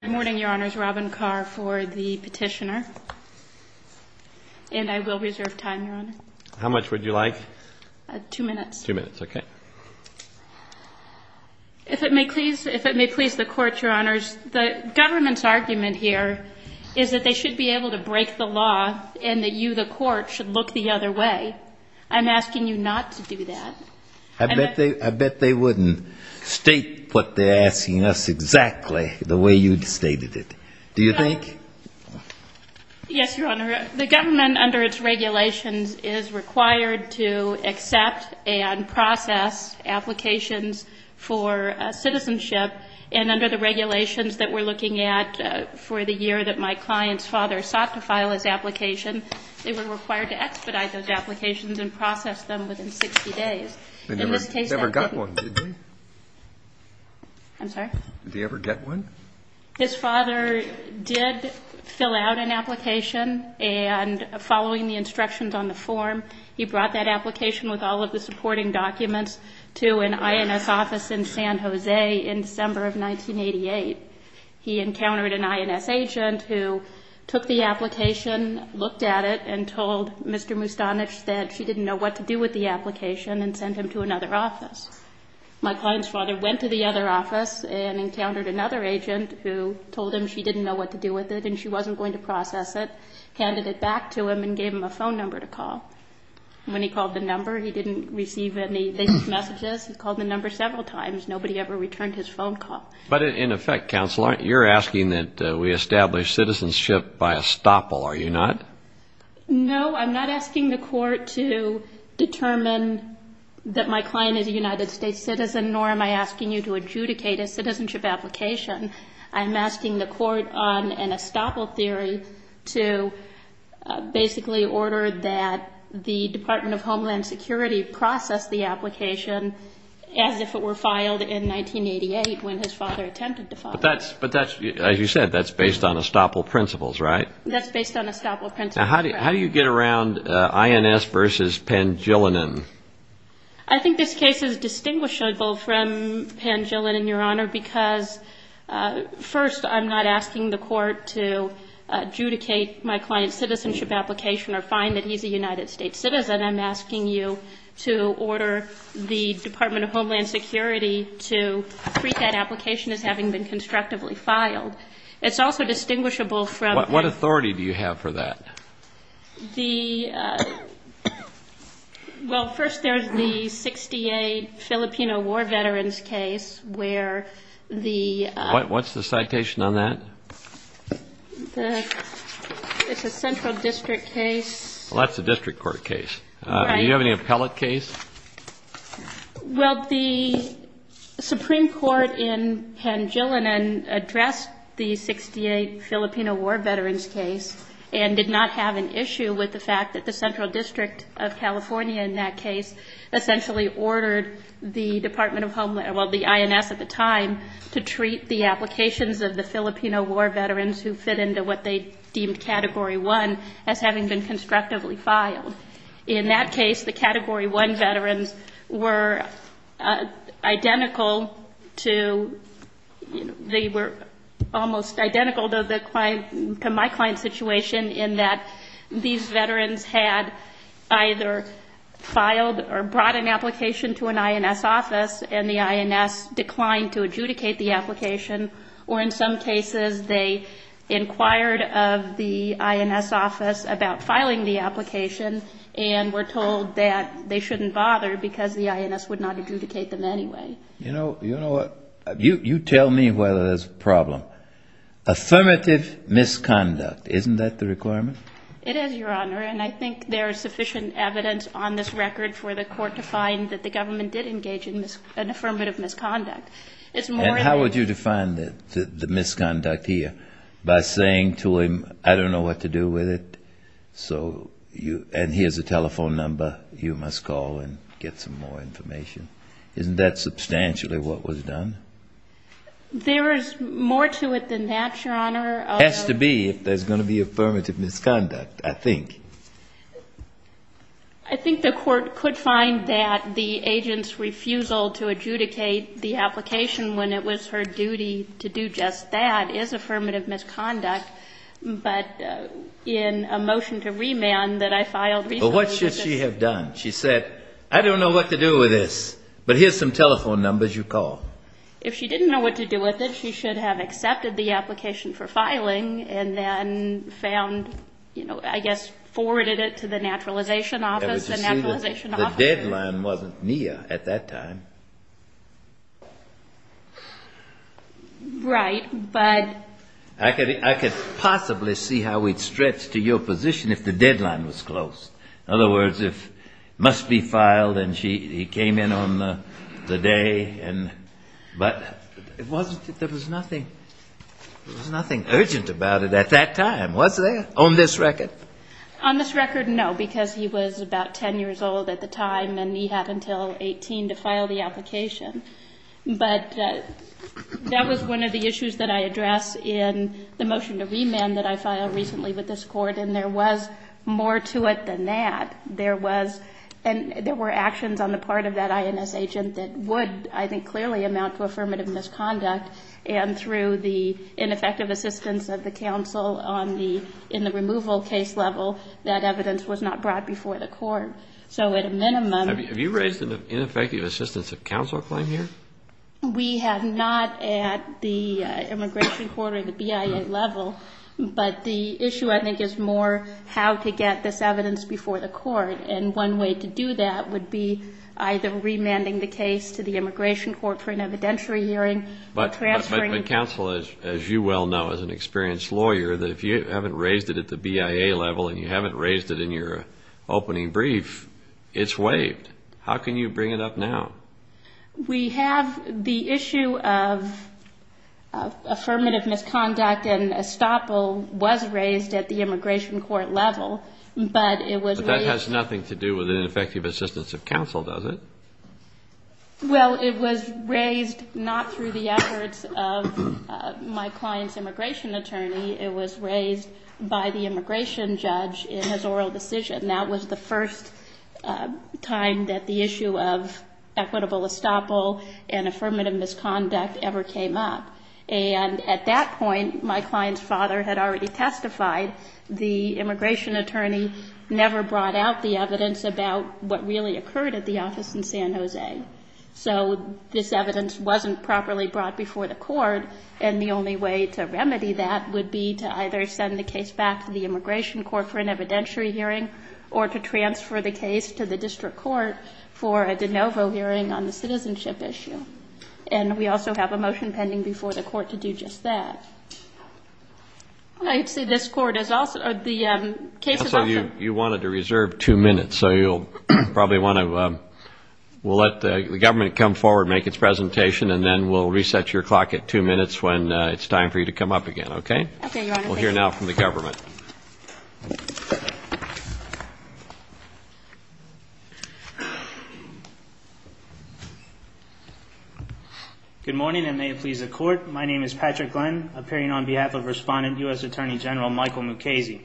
Good morning, your honors. Robin Carr for the petitioner. And I will reserve time, your honor. How much would you like? Two minutes. Two minutes, okay. If it may please the court, your honors, the government's argument here is that they should be able to break the law and that you, the court, should look the other way. I'm asking you not to do that. I bet they wouldn't state what they're asking us exactly the way you'd stated it. Do you think? Yes, your honor. The government, under its regulations, is required to accept and process applications for citizenship. And under the regulations that we're looking at for the year that my client's father sought to file his application, they were required to expedite those applications and process them within 60 days. They never got one, did they? I'm sorry? Did they ever get one? His father did fill out an application. And following the instructions on the form, he brought that application with all of the supporting documents to an INS office in San Jose in December of 1988. He encountered an INS agent who took the application, looked at it, and told Mr. Mustanich that she didn't know what to do with the application and sent him to another office. My client's father went to the other office and encountered another agent who told him she didn't know what to do with it and she wasn't going to process it, handed it back to him and gave him a phone number to call. When he called the number, he didn't receive any of these messages. He called the number several times. Nobody ever returned his phone call. But in effect, counsel, you're asking that we establish citizenship by estoppel, are you not? No, I'm not asking the court to determine that my client is a United States citizen nor am I asking you to adjudicate a citizenship application. I'm asking the court on an estoppel theory to basically order that the Department of Homeland Security process the application as if it were filed in 1988 when his father attempted to file it. But that's, as you said, that's based on estoppel principles, right? That's based on estoppel principles, correct. Now how do you get around INS versus Pangilinan? I think this case is distinguishable from Pangilinan, Your Honor, because first, I'm not asking the court to adjudicate my client's citizenship application or find that he's a United States citizen. I'm asking you to order the Department of Homeland Security to treat that application as having been constructively filed. It's also distinguishable from... What authority do you have for that? Well, first there's the 1968 Filipino War Veterans case where the... What's the citation on that? It's a central district case. Well, that's a district court case. Do you have any appellate case? Well, the Supreme Court in Pangilinan addressed the 1968 Filipino War Veterans case and did not have an issue with the fact that the Central District of California in that case essentially ordered the Department of Homeland... well, the INS at the time to treat the applications of the Filipino War Veterans who fit into what they deemed Category 1 as having been war veterans were identical to... they were almost identical to my client's situation in that these veterans had either filed or brought an application to an INS office and the INS declined to adjudicate the application or in some cases they inquired of the INS about filing the application and were told that they shouldn't bother because the INS would not adjudicate them anyway. You know what? You tell me whether there's a problem. Affirmative misconduct, isn't that the requirement? It is, Your Honor, and I think there is sufficient evidence on this record for the court to find that the government did engage in an affirmative misconduct. And how would you define the misconduct here by saying to a... I don't know what to do with it, so you... and here's a telephone number, you must call and get some more information. Isn't that substantially what was done? There is more to it than that, Your Honor. Has to be if there's going to be affirmative misconduct, I think. I think the court could find that the agent's refusal to adjudicate the application when it was her duty to do just that is affirmative misconduct, but in a motion to remand that I filed recently... Well, what should she have done? She said, I don't know what to do with this, but here's some telephone numbers, you call. If she didn't know what to do with it, she should have accepted the application for filing and then found, you know, I guess forwarded it to the naturalization office, the naturalization office... Right, but... I could possibly see how we'd stretch to your position if the deadline was close. In other words, if it must be filed and she came in on the day and... but there was nothing... there was nothing urgent about it at that time, was there, on this record? On this record, no, because he was about 10 years old at the time and he had until 18 to file the application. But that was one of the issues that I addressed in the motion to remand that I filed recently with this court, and there was more to it than that. There was... and there were actions on the part of that INS agent that would, I think, clearly amount to affirmative misconduct, and through the ineffective assistance of the counsel on the... in the removal case level, that evidence was not brought before the court. So at a minimum... Have you raised an ineffective assistance of counsel claim here? We have not at the immigration court or the BIA level, but the issue, I think, is more how to get this evidence before the court, and one way to do that would be either remanding the case to the immigration court for an evidentiary hearing or transferring... But counsel, as you well know as an experienced lawyer, that if you haven't raised it at the How can you bring it up now? We have... the issue of affirmative misconduct and estoppel was raised at the immigration court level, but it was raised... But that has nothing to do with an ineffective assistance of counsel, does it? Well, it was raised not through the efforts of my client's immigration attorney. It was raised at the time that the issue of equitable estoppel and affirmative misconduct ever came up, and at that point, my client's father had already testified. The immigration attorney never brought out the evidence about what really occurred at the office in San Jose. So this evidence wasn't properly brought before the court, and the only way to remedy that would be to either send the case back to the immigration court for an evidentiary hearing or to transfer the case to the district court for a de novo hearing on the citizenship issue. And we also have a motion pending before the court to do just that. I see this court is also... the case is also... Counsel, you wanted to reserve two minutes, so you'll probably want to... We'll let the government come forward and make its presentation, and then we'll reset your clock at two minutes when it's time for you to come up again, okay? Okay, Your Honor. We'll hear now from the government. Thank you. Good morning, and may it please the court. My name is Patrick Glenn, appearing on behalf of Respondent, U.S. Attorney General Michael Mukasey.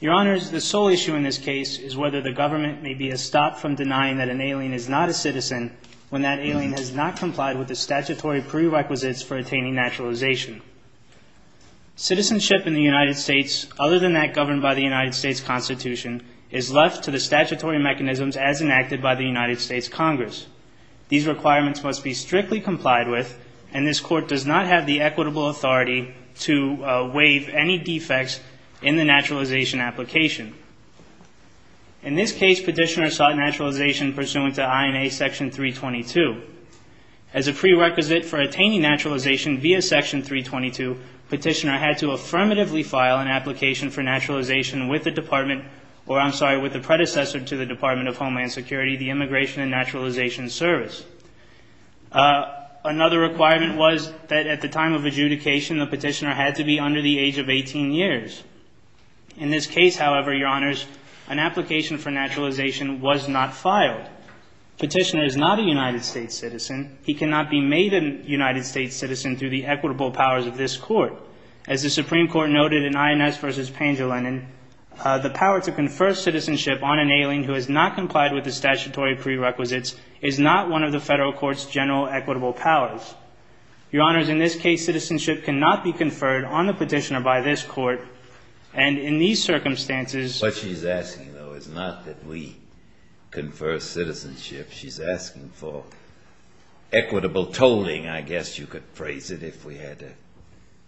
Your Honors, the sole issue in this case is whether the government may be a stop from denying that an alien is not a citizen when that alien has not complied with the statutory prerequisites for attaining naturalization. Citizenship in the United States, other than that governed by the United States Constitution, is left to the statutory mechanisms as enacted by the United States Congress. These requirements must be strictly complied with, and this court does not have the equitable authority to waive any defects in the naturalization application. In this case, petitioner sought naturalization pursuant to INA Section 322. As a prerequisite for attaining naturalization via Section 322, petitioner had to affirmatively file an application for naturalization with the department, or I'm sorry, with the predecessor to the Department of Homeland Security, the Immigration and Naturalization Service. Another requirement was that at the time of adjudication, the petitioner had to be under the age of 18 years. In this case, however, Your Honors, an application for naturalization was not filed. Petitioner is not a United States citizen. He cannot be made a United States citizen through the equitable powers of this court. As the Supreme Court noted in INS v. Pangilinan, the power to confer citizenship on an alien who has not complied with the statutory prerequisites is not one of the Federal Court's general equitable powers. Your Honors, in this case, citizenship cannot be conferred on the petitioner by this court, and in these circumstances What she's asking, though, is not that we confer citizenship, she's asking for equitable tolling, I guess you could phrase it if we had to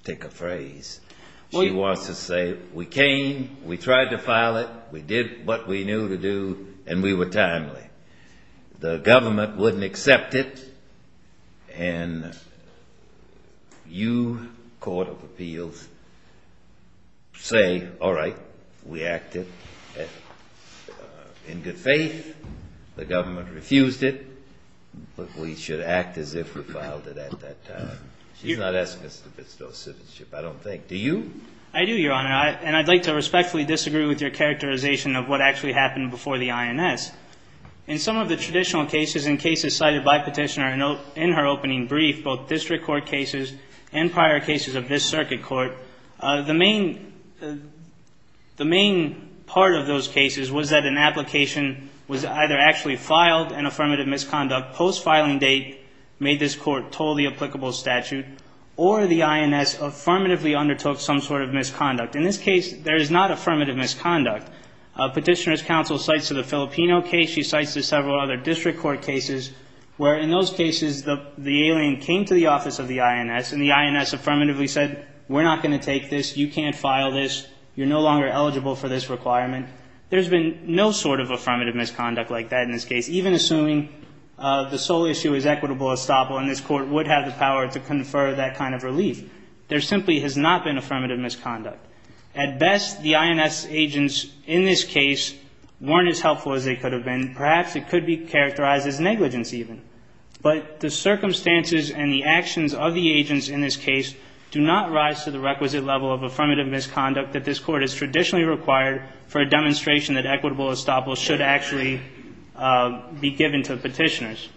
take a phrase. She wants to say, we came, we tried to file it, we did what we knew to do, and we were timely. The government wouldn't accept it, and you, Court of Appeals, say, all right, we refused it, but we should act as if we filed it at that time. She's not asking us to bestow citizenship, I don't think. Do you? I do, Your Honor, and I'd like to respectfully disagree with your characterization of what actually happened before the INS. In some of the traditional cases and cases cited by Petitioner in her opening brief, both district court cases and prior cases of this circuit court, the main part of those cases was that an application was either actually filed, an affirmative misconduct, post-filing date, made this court toll the applicable statute, or the INS affirmatively undertook some sort of misconduct. In this case, there is not affirmative misconduct. Petitioner's counsel cites to the Filipino case, she cites to several other district court cases, where in those cases the alien came to the office of the INS, and the INS affirmatively said, we're not going to take this, you can't for this requirement. There's been no sort of affirmative misconduct like that in this case, even assuming the sole issue is equitable estoppel, and this court would have the power to confer that kind of relief. There simply has not been affirmative misconduct. At best, the INS agents in this case weren't as helpful as they could have been. Perhaps it could be characterized as negligence even. But the circumstances and the actions of the agents in this case do not rise to the requisite level of affirmative misconduct that this court has traditionally required for a demonstration that equitable estoppel should actually be given to petitioners.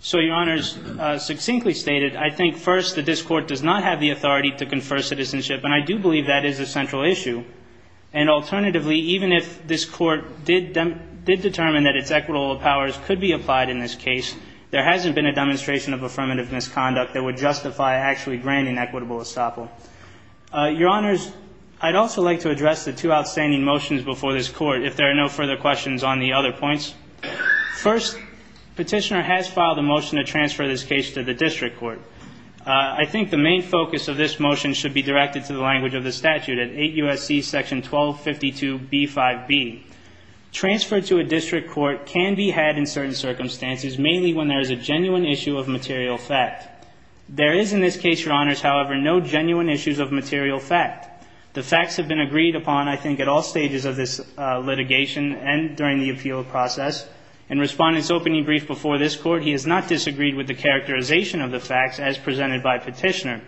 So, Your Honors, succinctly stated, I think first that this court does not have the authority to confer citizenship, and I do believe that is a central issue. And alternatively, even if this court did determine that its equitable powers could be applied in this case, there hasn't been a demonstration of affirmative estoppel. Your Honors, I'd also like to address the two outstanding motions before this court, if there are no further questions on the other points. First, petitioner has filed a motion to transfer this case to the district court. I think the main focus of this motion should be directed to the language of the statute at 8 U.S.C. section 1252b5b. Transfer to a district court can be had in certain circumstances, mainly when there is a genuine issue of material fact. There is, in this case, Your Honors, however, no genuine issues of material fact. The facts have been agreed upon, I think, at all stages of this litigation and during the appeal process. In Respondent's opening brief before this court, he has not disagreed with the characterization of the facts as presented by petitioner.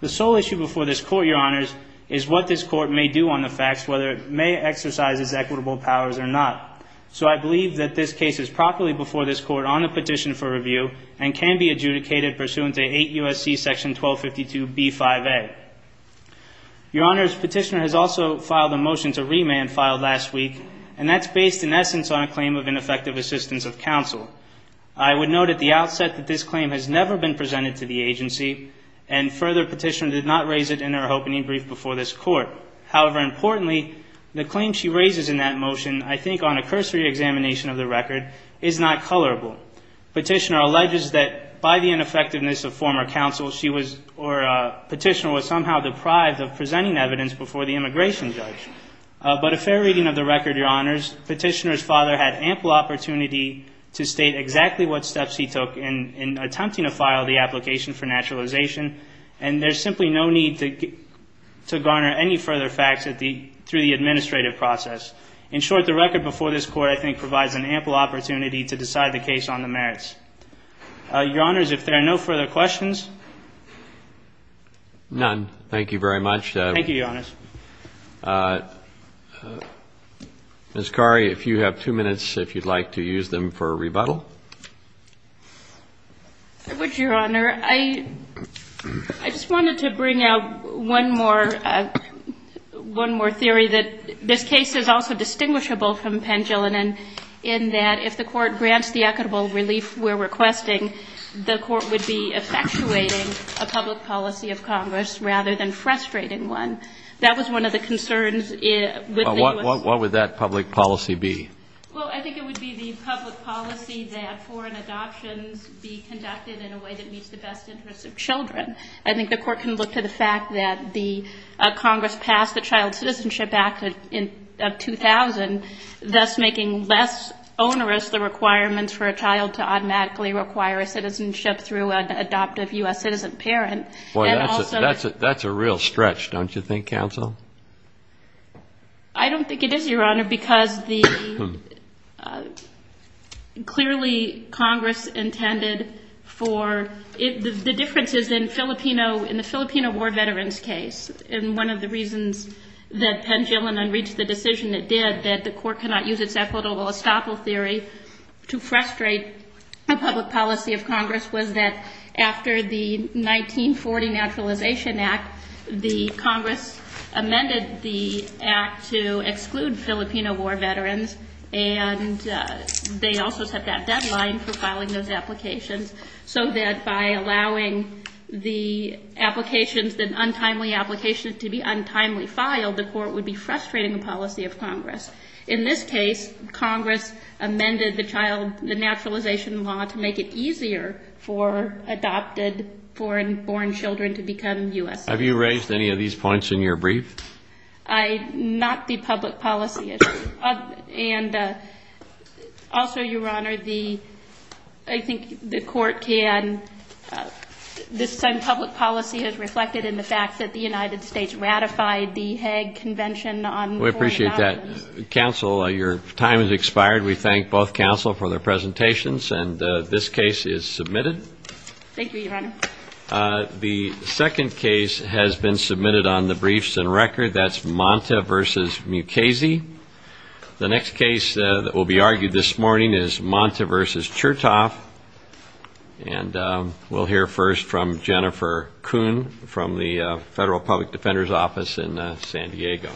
The sole issue before this court, Your Honors, is what this court may do on the facts, whether it may exercise its equitable powers or not. So, I believe that this case is properly before this court on a petition for transfer to 8 U.S.C. section 1252b5a. Your Honors, petitioner has also filed a motion to remand filed last week, and that's based, in essence, on a claim of ineffective assistance of counsel. I would note at the outset that this claim has never been presented to the agency, and further, petitioner did not raise it in her opening brief before this court. However, importantly, the claim she raises in that motion, I think, on a cursory examination of the record, is not colorable. Petitioner alleges that by the ineffectiveness of former counsel, she was, or petitioner was somehow deprived of presenting evidence before the immigration judge. But a fair reading of the record, Your Honors, petitioner's father had ample opportunity to state exactly what steps he took in attempting to file the application for naturalization, and there's simply no need to garner any further facts through the administrative process. In short, the record before this court, I think, provides an ample opportunity to decide the case on the merits. Your Honors, if there are no further questions. None. Thank you very much. Thank you, Your Honors. Ms. Khoury, if you have two minutes, if you'd like to use them for a rebuttal. I would, Your Honor. I just wanted to bring out one more theory that this case is also distinguishable from Pangilinan, in that if the court grants the equitable relief we're requesting, the court would be effectuating a public policy of Congress rather than frustrating one. That was one of the concerns. What would that public policy be? Well, I think it would be the public policy that foreign adoptions be conducted in a way that meets the best interests of children. I think the court can look to the fact that the Congress passed the Child Protection Act, thus making less onerous the requirements for a child to automatically require a citizenship through an adoptive U.S. citizen parent. That's a real stretch, don't you think, counsel? I don't think it is, Your Honor, because clearly Congress intended for, the difference is in the Filipino war veterans case. One of the reasons that Pangilinan reached the decision it did, that the court cannot use its equitable estoppel theory to frustrate a public policy of Congress, was that after the 1940 Naturalization Act, the Congress amended the act to exclude Filipino war veterans. They also set that deadline for filing those applications, so that by allowing the applications, the untimely applications to be untimely filed, the court would be frustrating the policy of Congress. In this case, Congress amended the child, the naturalization law to make it easier for adopted foreign-born children to become U.S. citizens. Have you raised any of these points in your brief? Not the public policy issue. And also, Your Honor, I think the court can, this same public policy is reflected in the fact that the United States ratified the Hague Convention on foreign dollars. We appreciate that. Counsel, your time has expired. We thank both counsel for their presentations, and this case is submitted. Thank you, Your Honor. The second case has been submitted on the briefs and record. That's Monta v. Mukasey. The next case that will be argued this morning is Monta v. Chertoff. And we'll hear first from Jennifer Kuhn from the Federal Public Defender's Office in San Diego. Thank you.